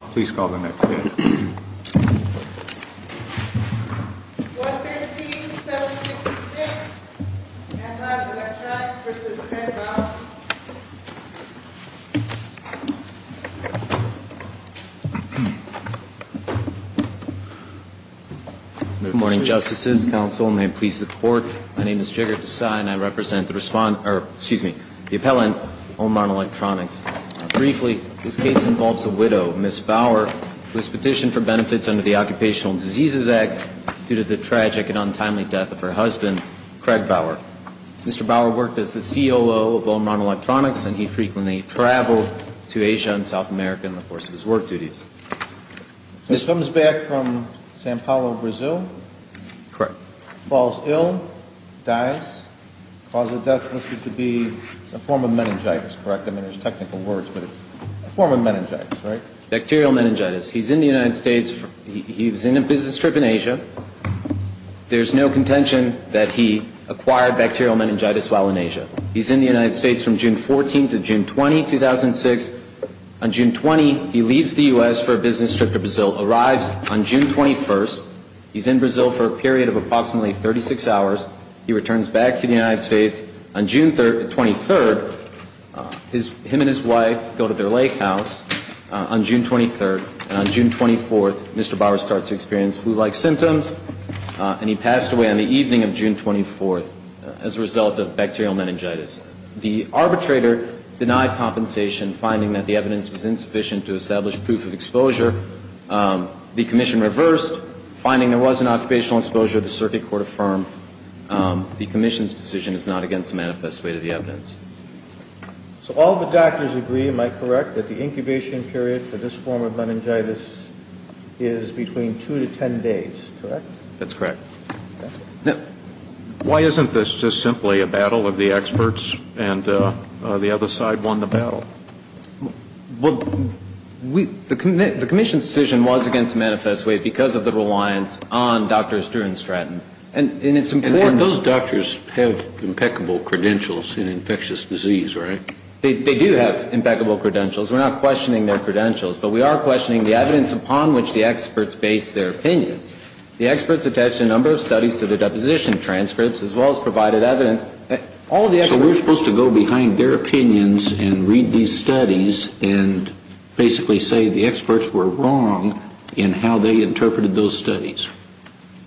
Please call the next case. 113-766, Amron Electronics v. Crenbaugh Good morning, Justices, Counsel, and may it please the Court, my name is Jigar Desai and I represent the respond- er, excuse me, the appellant, Amron Electronics. Briefly, this case involves a widow, Ms. Bauer, who has petitioned for benefits under the Occupational Diseases Act due to the tragic and untimely death of her husband, Craig Bauer. Mr. Bauer worked as the COO of Amron Electronics and he frequently traveled to Asia and South America in the course of his work duties. This comes back from Sao Paulo, Brazil? Correct. Falls ill, dies, cause of death listed to be a form of meningitis, correct? I mean, there's technical words, but it's a form of meningitis, right? Bacterial meningitis. He's in the United States, he's in a business trip in Asia. There's no contention that he acquired bacterial meningitis while in Asia. He's in the United States from June 14 to June 20, 2006. On June 20, he leaves the U.S. for a business trip to Brazil, arrives on June 21, he's in Brazil for a period of approximately 36 hours, he returns back to the United States. On June 23, him and his wife go to their lake house on June 23, and on June 24, Mr. Bauer starts to experience flu-like symptoms and he passed away on the evening of June 24 as a result of bacterial meningitis. The arbitrator denied compensation, finding that the evidence was insufficient to establish proof of exposure. The commission reversed, finding there was an occupational exposure. The circuit court affirmed the commission's decision is not against a manifest way to the evidence. So all the doctors agree, am I correct, that the incubation period for this form of meningitis is between 2 to 10 days, correct? That's correct. Why isn't this just simply a battle of the experts and the other side won the battle? Well, the commission's decision was against a manifest way because of the reliance on Drs. Drew and Stratton. And those doctors have impeccable credentials in infectious disease, right? They do have impeccable credentials. We're not questioning their credentials, but we are questioning the evidence upon which the experts base their opinions. The experts attached a number of studies to the deposition transcripts as well as provided evidence. So we're supposed to go behind their opinions and read these studies and basically say the experts were wrong in how they interpreted those studies?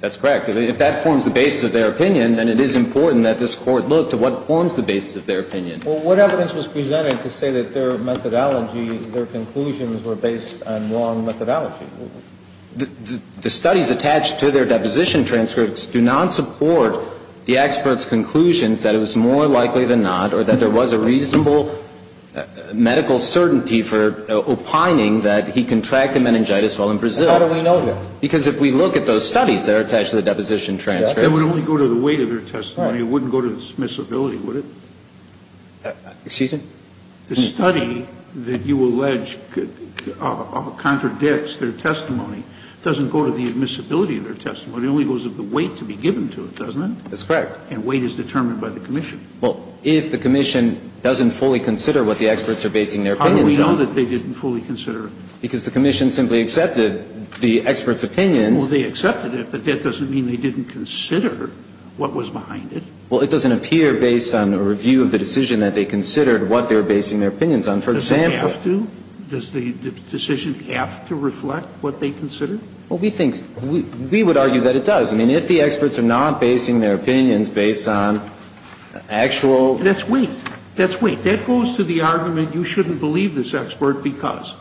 That's correct. If that forms the basis of their opinion, then it is important that this Court look to what forms the basis of their opinion. Well, what evidence was presented to say that their methodology, their conclusions were based on wrong methodology? The studies attached to their deposition transcripts do not support the experts' conclusions that it was more likely than not or that there was a reasonable medical certainty for opining that he contracted meningitis while in Brazil. How do we know that? Because if we look at those studies that are attached to the deposition transcripts. That would only go to the weight of their testimony. It wouldn't go to dismissibility, would it? Excuse me? The study that you allege contradicts their testimony doesn't go to the admissibility of their testimony. It only goes to the weight to be given to it, doesn't it? That's correct. And weight is determined by the commission. Well, if the commission doesn't fully consider what the experts are basing their opinions on. How do we know that they didn't fully consider it? Because the commission simply accepted the experts' opinions. Well, they accepted it, but that doesn't mean they didn't consider what was behind it. Well, it doesn't appear based on a review of the decision that they considered what they were basing their opinions on. For example. Does it have to? Does the decision have to reflect what they considered? Well, we think we would argue that it does. I mean, if the experts are not basing their opinions based on actual... That's weight. That's weight. That goes to the argument you shouldn't believe this expert because...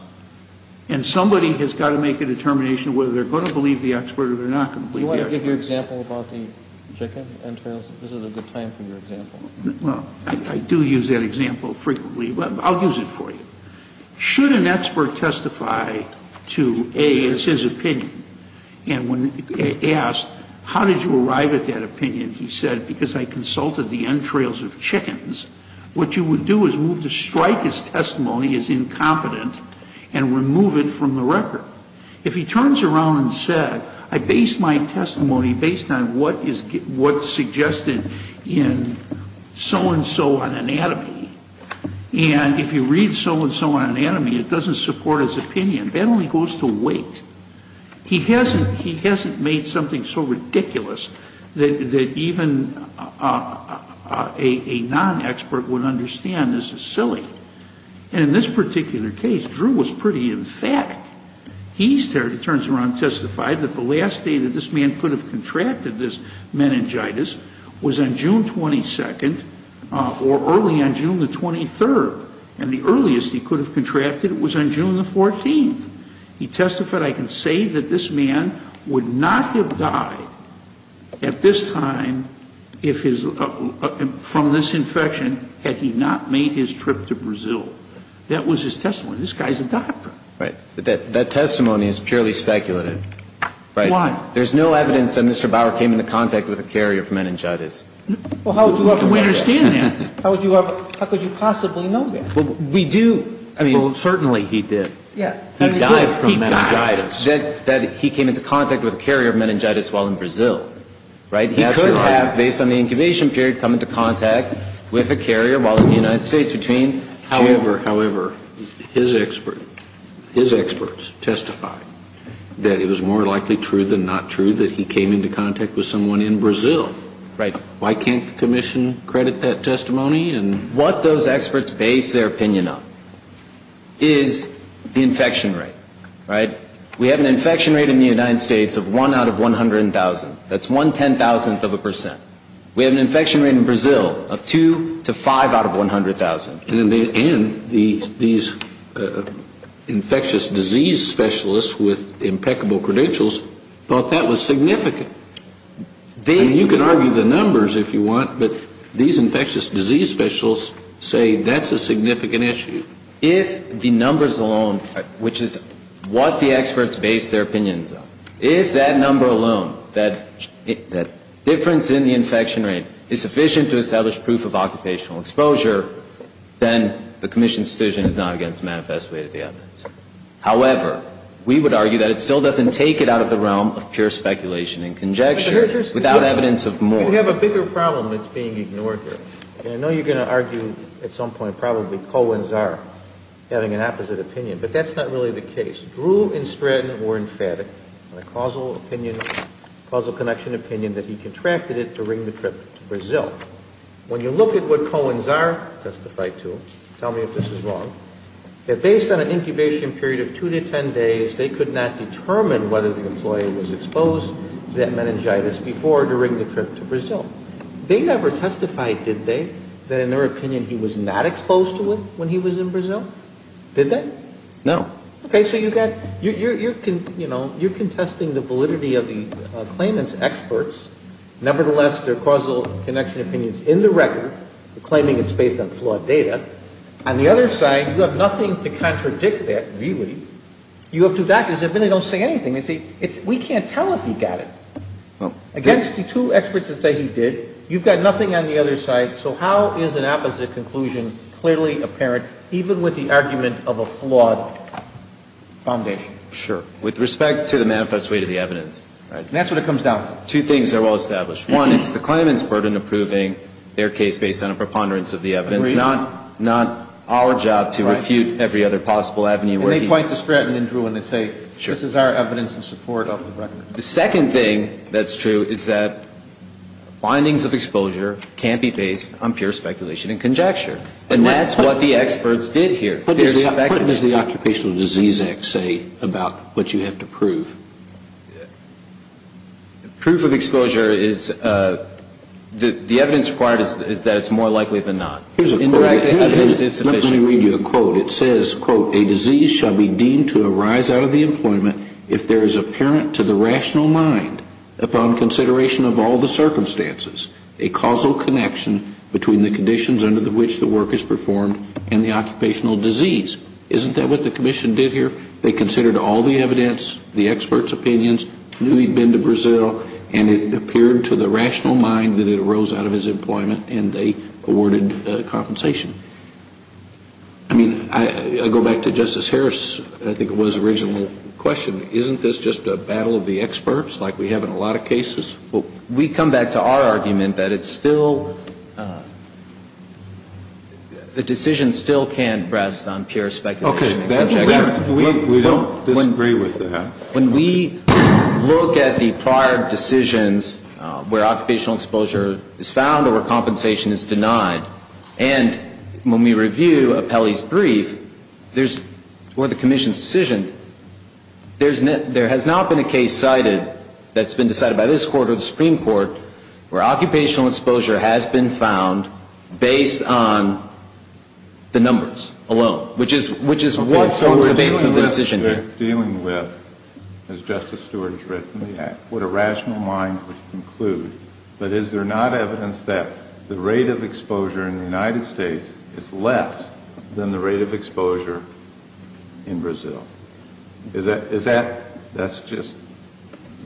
And somebody has got to make a determination whether they are going to believe the expert or they are not going to believe the expert. Kennedy, do you want to give your example about the chicken entrails? This is a good time for your example. Well, I do use that example frequently, but I'll use it for you. Should an expert testify to A, it's his opinion, and when asked how did you arrive at that opinion, he said because I consulted the entrails of chickens, what you would do is strike his testimony as incompetent and remove it from the record. If he turns around and said, I based my testimony based on what is suggested in so-and-so on anatomy, and if you read so-and-so on anatomy, it doesn't support his opinion, that only goes to weight. He hasn't made something so ridiculous that even a non-expert would understand this is silly. And in this particular case, Drew was pretty emphatic. He turns around and testified that the last day that this man could have contracted this meningitis was on June 22nd or early on June 23rd. And the earliest he could have contracted it was on June 14th. He testified, I can say that this man would not have died at this time from this He testified that he would not have died from meningitis while in Brazil. That was his testimony. This guy is a doctor. Right. But that testimony is purely speculative. Why? There is no evidence that Mr. Bauer came into contact with a carrier of meningitis. Well, how would you understand that? How could you possibly know that? We do. Well, certainly he did. He died from meningitis. He died. He did not come into contact with a carrier of meningitis while in Brazil. He could have, based on the incubation period, come into contact with a carrier while in the United States. However, his experts testified that it was more likely true than not true that he came into contact with someone in Brazil. Why can't the commission credit that testimony? What those experts base their opinion on is the infection rate. We have an infection rate in the United States of 1 out of 100,000. That's 1 ten-thousandth of a percent. We have an infection rate in Brazil of 2 to 5 out of 100,000. And these infectious disease specialists with impeccable credentials thought that was significant. You can argue the numbers if you want, but these infectious disease specialists say that's a significant issue. If the numbers alone, which is what the experts base their opinions on, if that number alone, that difference in the infection rate, is sufficient to establish proof of occupational exposure, then the commission's decision is not against manifest way to the evidence. However, we would argue that it still doesn't take it out of the realm of pure speculation and conjecture without evidence of more. We have a bigger problem that's being ignored here. And I know you're going to argue at some point probably Cohen-Tsar having an opposite opinion, but that's not really the case. Drew and Stratton were emphatic on a causal opinion, causal connection opinion, that he contracted it during the trip to Brazil. When you look at what Cohen-Tsar testified to, tell me if this is wrong, that based on an incubation period of 2 to 10 days, they could not determine whether the employee was exposed to that meningitis before or during the trip to Brazil. They never testified, did they, that in their opinion he was not exposed to it when he was in Brazil? Did they? No. Okay. So you're contesting the validity of the claimant's experts. Nevertheless, their causal connection opinion is in the record, claiming it's based on flawed data. On the other side, you have nothing to contradict that, really. You have two doctors that really don't say anything. They say, we can't tell if he got it. Against the two experts that say he did, you've got nothing on the other side. So how is an opposite conclusion clearly apparent, even with the argument of a flawed foundation? Sure. With respect to the manifest way to the evidence. And that's what it comes down to. Two things are well established. One, it's the claimant's burden approving their case based on a preponderance of the evidence, not our job to refute every other possible avenue where he. And they point to Stratton and Drew and they say, this is our evidence in support of the record. The second thing that's true is that findings of exposure can't be based on pure speculation and conjecture. And that's what the experts did here. What does the Occupational Disease Act say about what you have to prove? Proof of exposure is, the evidence required is that it's more likely than not. Indirect evidence is sufficient. Let me read you a quote. It says, quote, a disease shall be deemed to arise out of the employment if there is apparent to the rational mind, upon consideration of all the circumstances, a causal connection between the conditions under which the work is performed and the occupational disease. Isn't that what the commission did here? They considered all the evidence, the experts' opinions, knew he'd been to Brazil, and it appeared to the rational mind that it arose out of his employment and they awarded compensation. I mean, I go back to Justice Harris. I think it was a reasonable question. Isn't this just a battle of the experts like we have in a lot of cases? Well, we come back to our argument that it's still, the decision still can't rest on pure speculation and conjecture. Okay. We don't disagree with that. When we look at the prior decisions where occupational exposure is found or where compensation is denied, and when we review Apelli's brief, there's, or the commission's decision, there has not been a case cited that's been decided by this Court or the Supreme Court where occupational exposure has been found based on the numbers alone, which is what forms the basis of the decision here. Okay. So we're dealing with, as Justice Stewart has written, what a rational mind would conclude. But is there not evidence that the rate of exposure in the United States is less than the rate of exposure in Brazil? Is that, that's just,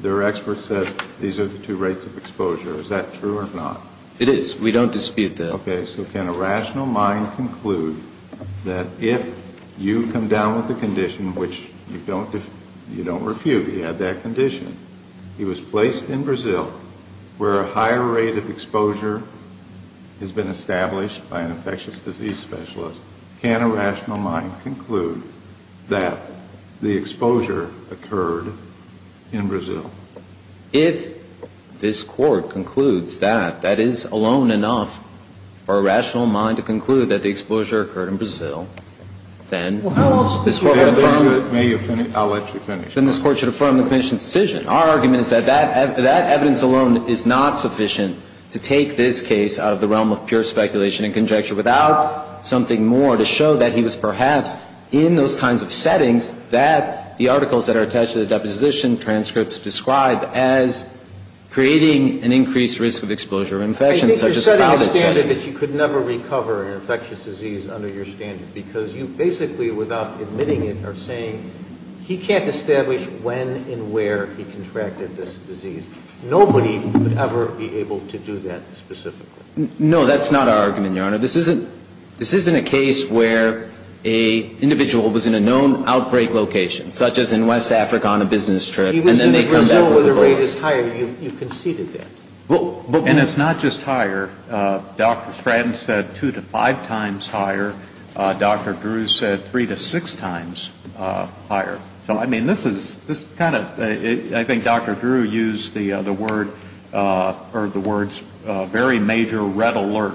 there are experts that these are the two rates of exposure. Is that true or not? It is. We don't dispute that. Okay. So can a rational mind conclude that if you come down with a condition which you don't refute, you had that condition, it was placed in Brazil where a higher rate of exposure has been established by an infectious disease specialist, can a rational mind conclude that the exposure occurred in Brazil? If this Court concludes that, that is alone enough for a rational mind to conclude that the exposure occurred in Brazil, then this Court would affirm. May you finish? I'll let you finish. Then this Court should affirm the Commission's decision. Our argument is that that evidence alone is not sufficient to take this case out of the realm of pure speculation and conjecture without something more to show that he was perhaps in those kinds of settings that the articles that are attached to the deposition, transcripts describe as creating an increased risk of exposure of infection, such as COVID. I think you're setting a standard that you could never recover an infectious disease under your standard, because you basically, without admitting it, are saying he can't establish when and where he contracted this disease. Nobody would ever be able to do that specifically. No, that's not our argument, Your Honor. This isn't a case where an individual was in a known outbreak location, such as in West Africa on a business trip, and then they come back. He was in Brazil where the rate is higher. You conceded that. And it's not just higher. Dr. Stratton said two to five times higher. Dr. Drew said three to six times higher. So, I mean, this is kind of ‑‑ I think Dr. Drew used the words very major red alert.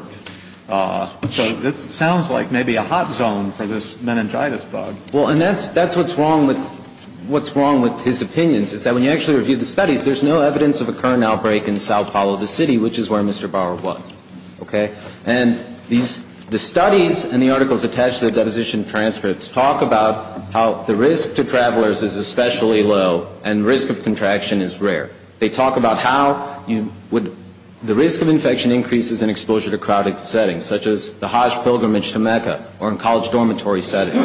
So it sounds like maybe a hot zone for this meningitis bug. Well, and that's what's wrong with his opinions, is that when you actually review the studies, there's no evidence of a current outbreak in Sao Paulo, the city, which is where Mr. Bauer was. Okay? And the studies and the articles attached to the deposition transcripts talk about how the risk to travelers is especially low, and risk of contraction is rare. They talk about how you would ‑‑ the risk of infection increases in exposure to crowded settings, such as the Hajj pilgrimage to Mecca, or in college dormitory settings.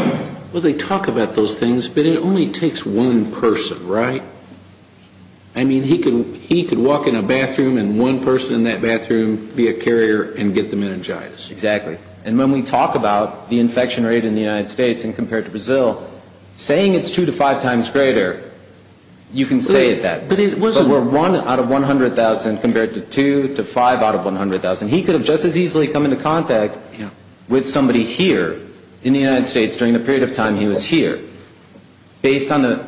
Well, they talk about those things, but it only takes one person, right? I mean, he could walk in a bathroom and one person in that bathroom be a carrier and get the meningitis. Exactly. And when we talk about the infection rate in the United States and compare it to Brazil, saying it's two to five times greater, you can say it that way. But it wasn't ‑‑ But we're one out of 100,000 compared to two to five out of 100,000. He could have just as easily come into contact with somebody here in the United States during the period of time he was here. Based on the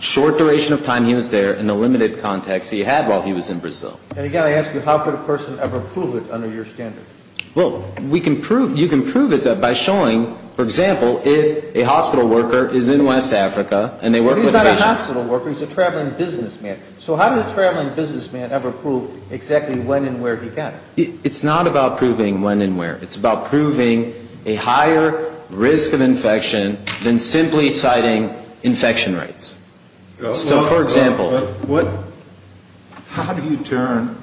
short duration of time he was there and the limited context he had while he was in Brazil. And again, I ask you, how could a person ever prove it under your standard? Well, we can prove ‑‑ you can prove it by showing, for example, if a hospital worker is in West Africa and they work with a patient. But he's not a hospital worker. He's a traveling businessman. So how did a traveling businessman ever prove exactly when and where he got it? It's not about proving when and where. It's about proving a higher risk of infection than simply citing infection rates. So, for example ‑‑ How do you determine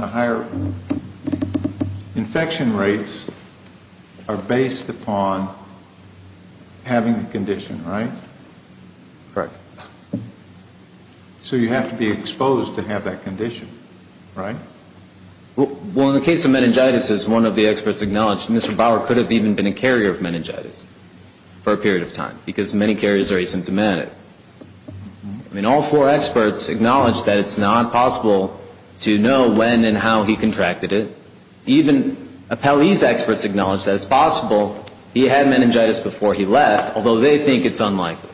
the higher infection rates are based upon having the condition, right? Correct. So you have to be exposed to have that condition, right? Well, in the case of meningitis, as one of the experts acknowledged, Mr. Bauer could have even been a carrier of meningitis for a period of time because many carriers are asymptomatic. I mean, all four experts acknowledge that it's not possible to know when and how he contracted it. Even appellees' experts acknowledge that it's possible he had meningitis before he left, although they think it's unlikely,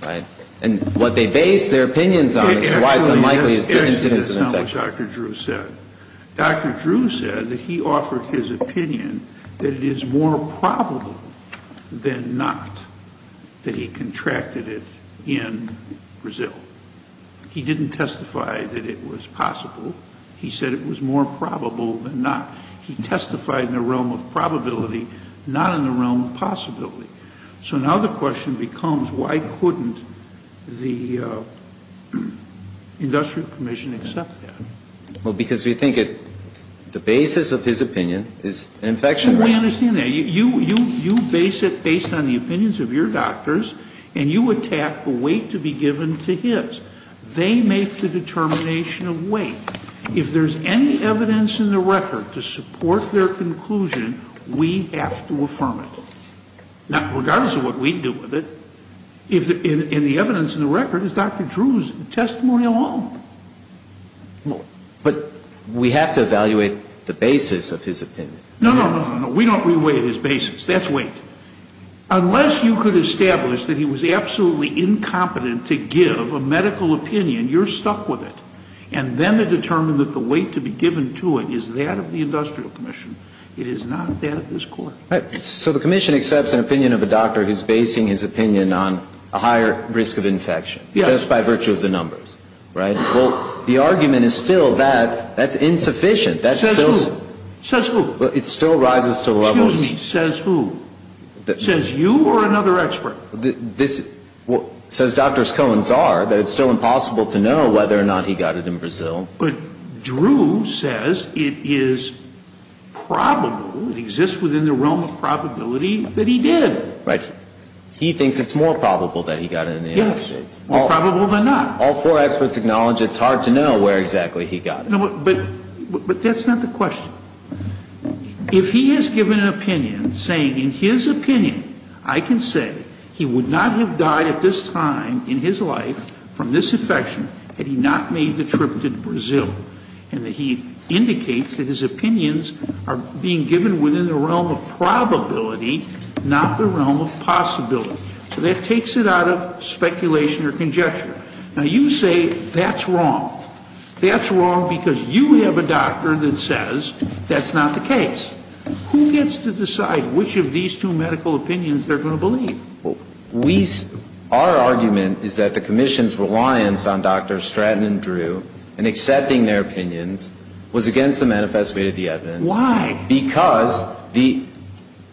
right? And what they base their opinions on is why it's unlikely is the incidence of infection. That's what Dr. Drew said. Dr. Drew said that he offered his opinion that it is more probable than not that he contracted it in Brazil. He didn't testify that it was possible. He said it was more probable than not. He testified in the realm of probability, not in the realm of possibility. So now the question becomes why couldn't the industrial commission accept that? Well, because we think the basis of his opinion is infection. We understand that. You base it based on the opinions of your doctors, and you attack the weight to be given to his. They make the determination of weight. If there's any evidence in the record to support their conclusion, we have to affirm it. Now, regardless of what we do with it, if the evidence in the record is Dr. Drew's testimonial home. But we have to evaluate the basis of his opinion. No, no, no, no. We don't re-weigh his basis. That's weight. Unless you could establish that he was absolutely incompetent to give a medical opinion, you're stuck with it. And then to determine that the weight to be given to it is that of the industrial commission, it is not that of this Court. Right. So the commission accepts an opinion of a doctor who is basing his opinion on a higher risk of infection. Yes. Just by virtue of the numbers. Right? Well, the argument is still that that's insufficient. Says who? Says who? It still rises to levels. Excuse me. Says who? Says you or another expert? This, well, says Dr. Cohen's czar that it's still impossible to know whether or not he got it in Brazil. But Drew says it is probable, it exists within the realm of probability, that he did. Right. He thinks it's more probable that he got it in the United States. Yes. More probable than not. All four experts acknowledge it's hard to know where exactly he got it. But that's not the question. If he has given an opinion saying in his opinion I can say he would not have died at this time in his life from this infection had he not made the trip to Brazil. And that he indicates that his opinions are being given within the realm of probability, not the realm of possibility. So that takes it out of speculation or conjecture. Now, you say that's wrong. That's wrong because you have a doctor that says that's not the case. Who gets to decide which of these two medical opinions they're going to believe? Our argument is that the Commission's reliance on Dr. Stratton and Drew in accepting their opinions was against the manifest way of the evidence. Why? Because the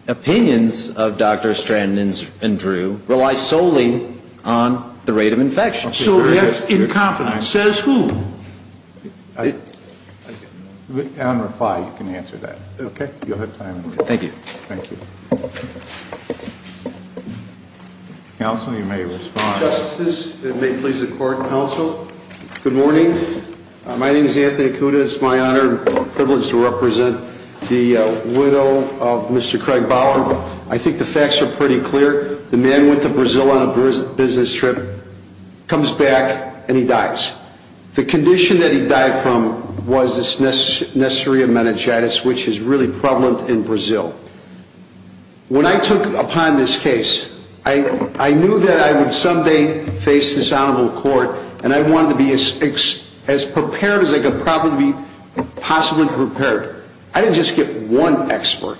opinions of Dr. Stratton and Drew rely solely on the rate of infection. So that's incompetence. Says who? On reply, you can answer that. Okay. You'll have time. Thank you. Thank you. Counsel, you may respond. Justice, and may it please the Court, Counsel, good morning. My name is Anthony Acuda. It's my honor and privilege to represent the widow of Mr. Craig Bauer. I think the facts are pretty clear. The man went to Brazil on a business trip, comes back, and he dies. The condition that he died from was this Neisseria meningitis, which is really prevalent in Brazil. When I took upon this case, I knew that I would someday face this honorable court, and I wanted to be as prepared as I could possibly be prepared. I didn't just get one expert.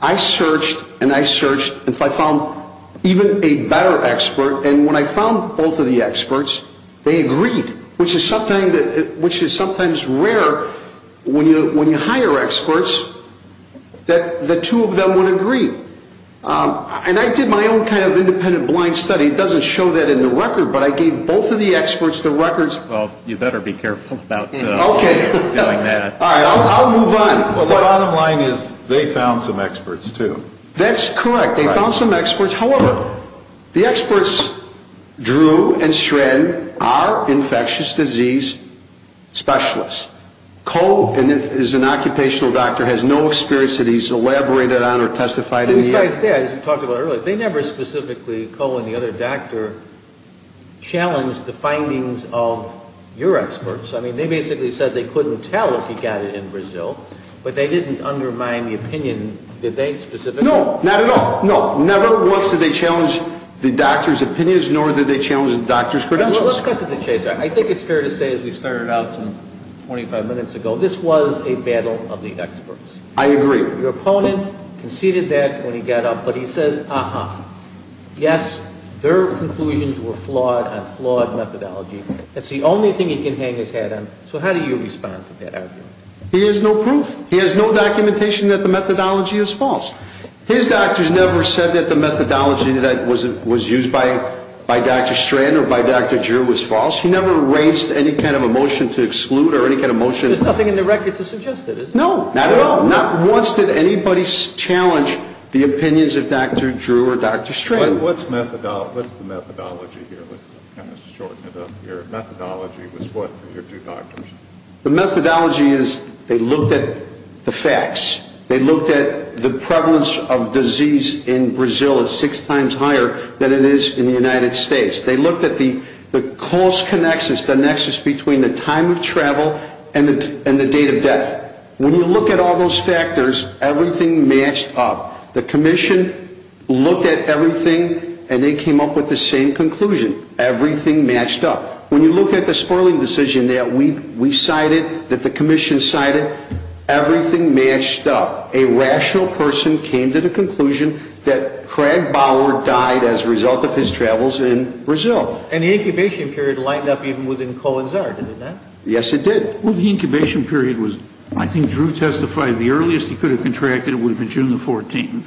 I searched and I searched until I found even a better expert, and when I found both of the experts, they agreed, which is sometimes rare when you hire experts that the two of them would agree. And I did my own kind of independent blind study. It doesn't show that in the record, but I gave both of the experts the records. Well, you better be careful about doing that. Okay. All right. I'll move on. Well, the bottom line is they found some experts too. That's correct. They found some experts. However, the experts, Drew and Shred, are infectious disease specialists. Cole is an occupational doctor, has no experience that he's elaborated on or testified in. Besides that, as you talked about earlier, they never specifically, Cole and the other doctor, challenged the findings of your experts. I mean, they basically said they couldn't tell if he got it in Brazil, but they didn't undermine the opinion. Did they specifically? No, not at all. No, never once did they challenge the doctor's opinions, nor did they challenge the doctor's credentials. Let's get to the chase. I think it's fair to say, as we started out 25 minutes ago, this was a battle of the experts. I agree. Your opponent conceded that when he got up, but he says, uh-huh, yes, their conclusions were flawed on flawed methodology. That's the only thing he can hang his hat on. So how do you respond to that argument? He has no proof. He has no documentation that the methodology is false. His doctors never said that the methodology that was used by Dr. Strand or by Dr. Drew was false. He never raised any kind of a motion to exclude or any kind of motion. There's nothing in the record to suggest that, is there? No, not at all. Not once did anybody challenge the opinions of Dr. Drew or Dr. Strand. What's the methodology here? Let's kind of shorten it up here. Methodology was what for your two doctors? The methodology is they looked at the facts. They looked at the prevalence of disease in Brazil at six times higher than it is in the United States. They looked at the cost connections, the nexus between the time of travel and the date of death. When you look at all those factors, everything matched up. The commission looked at everything, and they came up with the same conclusion. Everything matched up. When you look at the spoiling decision that we cited, that the commission cited, everything matched up. A rational person came to the conclusion that Craig Bauer died as a result of his travels in Brazil. And the incubation period lined up even within Cohen's Art, did it not? Yes, it did. Well, the incubation period was, I think Drew testified, the earliest he could have contracted would have been June the 14th.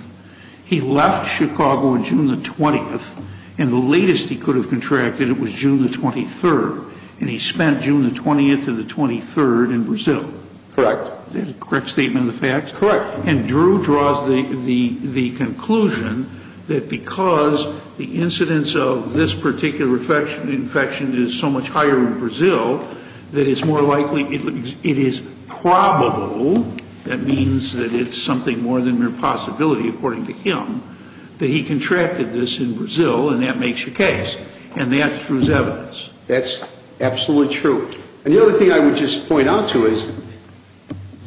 He left Chicago on June the 20th, and the latest he could have contracted, it was June the 23rd. And he spent June the 20th to the 23rd in Brazil. Correct. A correct statement of the facts? Correct. And Drew draws the conclusion that because the incidence of this particular infection is so much higher in Brazil, that it's more likely, it is probable, that means that it's something more than mere possibility according to him, that he contracted this in Brazil, and that makes the case. And that's Drew's evidence. That's absolutely true. And the other thing I would just point out to you is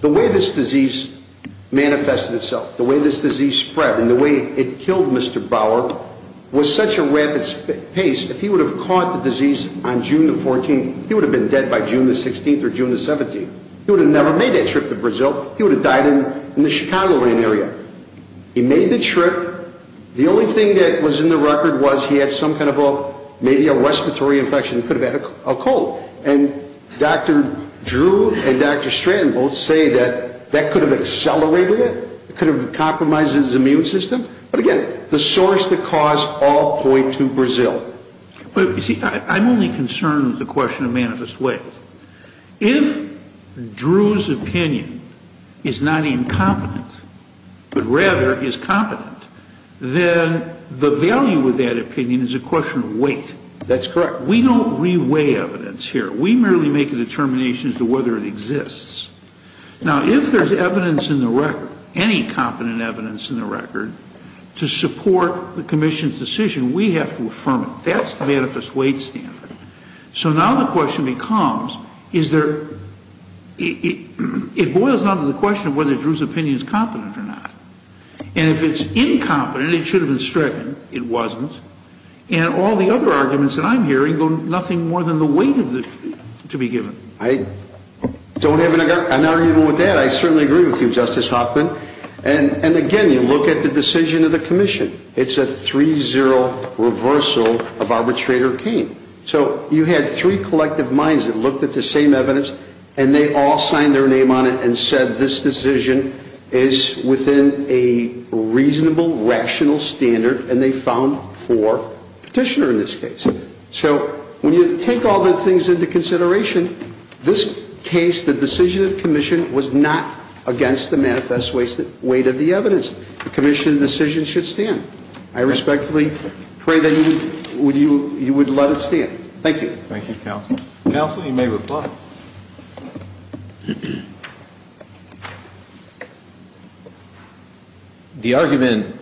the way this disease manifested itself, the way this disease spread, and the way it killed Mr. Bauer was such a rapid pace. If he would have caught the disease on June the 14th, he would have been dead by June the 16th or June the 17th. He would have never made that trip to Brazil. He would have died in the Chicagoland area. He made the trip. The only thing that was in the record was he had some kind of a, maybe a respiratory infection, could have had a cold. And Dr. Drew and Dr. Stratton both say that that could have accelerated it. It could have compromised his immune system. But, again, the source, the cause, all point to Brazil. But, you see, I'm only concerned with the question of manifest ways. If Drew's opinion is not incompetent, but rather is competent, then the value of that opinion is a question of weight. That's correct. We don't re-weigh evidence here. We merely make a determination as to whether it exists. Now, if there's evidence in the record, any competent evidence in the record, to support the commission's decision, we have to affirm it. That's the manifest weight standard. So now the question becomes, is there, it boils down to the question of whether Drew's opinion is competent or not. And if it's incompetent, it should have been stricken. It wasn't. And all the other arguments that I'm hearing go nothing more than the weight to be given. I don't have an argument with that. I certainly agree with you, Justice Hoffman. And, again, you look at the decision of the commission. It's a 3-0 reversal of arbitrator Kane. So you had three collective minds that looked at the same evidence, and they all signed their name on it and said, is within a reasonable, rational standard, and they found four petitioner in this case. So when you take all the things into consideration, this case, the decision of commission, was not against the manifest weight of the evidence. The commission decision should stand. I respectfully pray that you would let it stand. Thank you. Thank you, counsel. Counsel, you may reply. The argument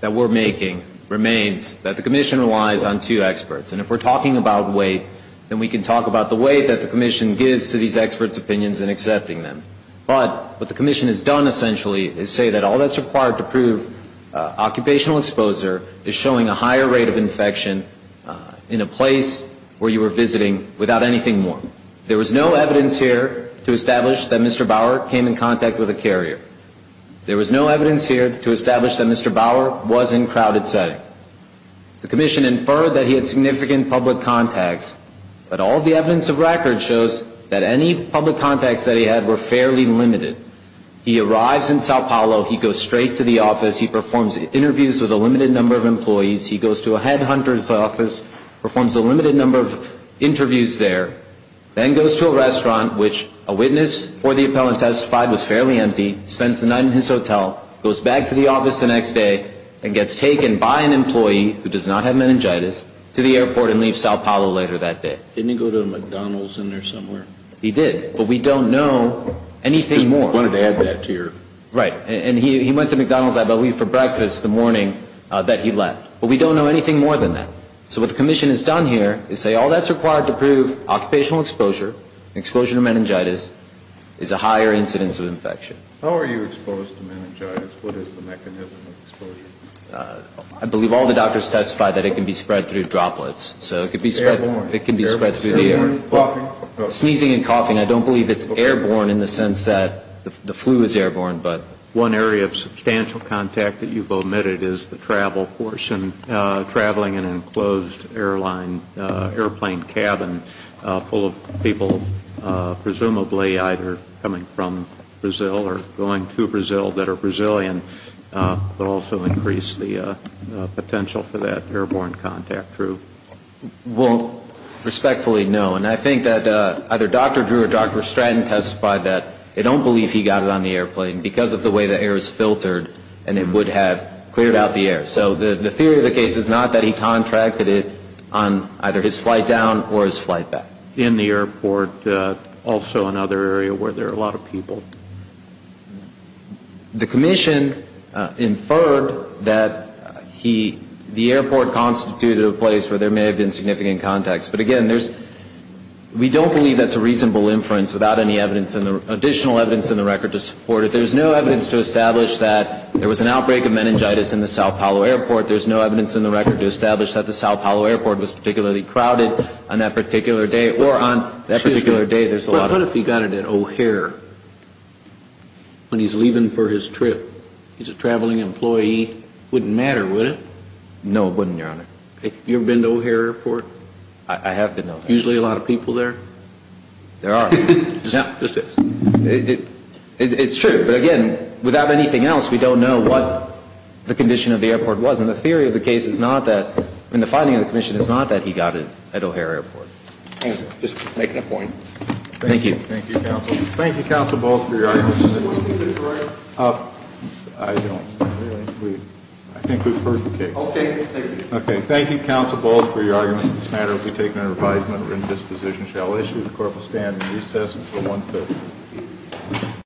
that we're making remains that the commission relies on two experts. And if we're talking about weight, then we can talk about the weight that the commission gives to these experts' opinions and accepting them. But what the commission has done, essentially, is say that all that's required to prove occupational exposure is showing a higher rate of infection in a place where you were visiting without anything more. There was no evidence here to establish that Mr. Bauer came in contact with a carrier. There was no evidence here to establish that Mr. Bauer was in crowded settings. The commission inferred that he had significant public contacts, but all the evidence of record shows that any public contacts that he had were fairly limited. He arrives in Sao Paulo. He goes straight to the office. He performs interviews with a limited number of employees. He goes to a headhunter's office, performs a limited number of interviews there, then goes to a restaurant, which a witness for the appellant testified was fairly empty, spends the night in his hotel, goes back to the office the next day, and gets taken by an employee who does not have meningitis to the airport and leaves Sao Paulo later that day. Didn't he go to a McDonald's in there somewhere? He did. But we don't know anything more. I just wanted to add that to your... Right. And he went to McDonald's, I believe, for breakfast the morning that he left. But we don't know anything more than that. So what the commission has done here is say all that's required to prove occupational exposure, exposure to meningitis, is a higher incidence of infection. How are you exposed to meningitis? What is the mechanism of exposure? I believe all the doctors testified that it can be spread through droplets. So it can be spread through the air. Sneezing and coughing? Sneezing and coughing. I don't believe it's airborne in the sense that the flu is airborne. One area of substantial contact that you've omitted is the travel portion, traveling in an enclosed airplane cabin full of people presumably either coming from Brazil or going to Brazil that are Brazilian, but also increase the potential for that airborne contact. True? Well, respectfully, no. And I think that either Dr. Drew or Dr. Stratton testified that they don't believe he got it on the airplane because of the way the air is filtered and it would have cleared out the air. So the theory of the case is not that he contracted it on either his flight down or his flight back. In the airport, also another area where there are a lot of people. The commission inferred that the airport constituted a place where there may have been significant contacts. But, again, we don't believe that's a reasonable inference without any additional evidence in the record to support it. There's no evidence to establish that there was an outbreak of meningitis in the Sao Paulo airport. There's no evidence in the record to establish that the Sao Paulo airport was particularly crowded on that particular day or on that particular day. Excuse me. What if he got it at O'Hare when he's leaving for his trip? He's a traveling employee. Wouldn't matter, would it? No, it wouldn't, Your Honor. Have you ever been to O'Hare airport? I have been to O'Hare airport. Usually a lot of people there? There are. Just this. It's true. But, again, without anything else, we don't know what the condition of the airport was. And the theory of the case is not that, I mean, the finding of the commission is not that he got it at O'Hare airport. Just making a point. Thank you. Thank you, counsel. Thank you, counsel, both, for your arguments. I don't really believe, I think we've heard the case. Okay. Thank you. Okay. Thank you, counsel, both, for your arguments. This matter will be taken under advisement. Written disposition shall issue. The court will stand in recess until 1 p.m.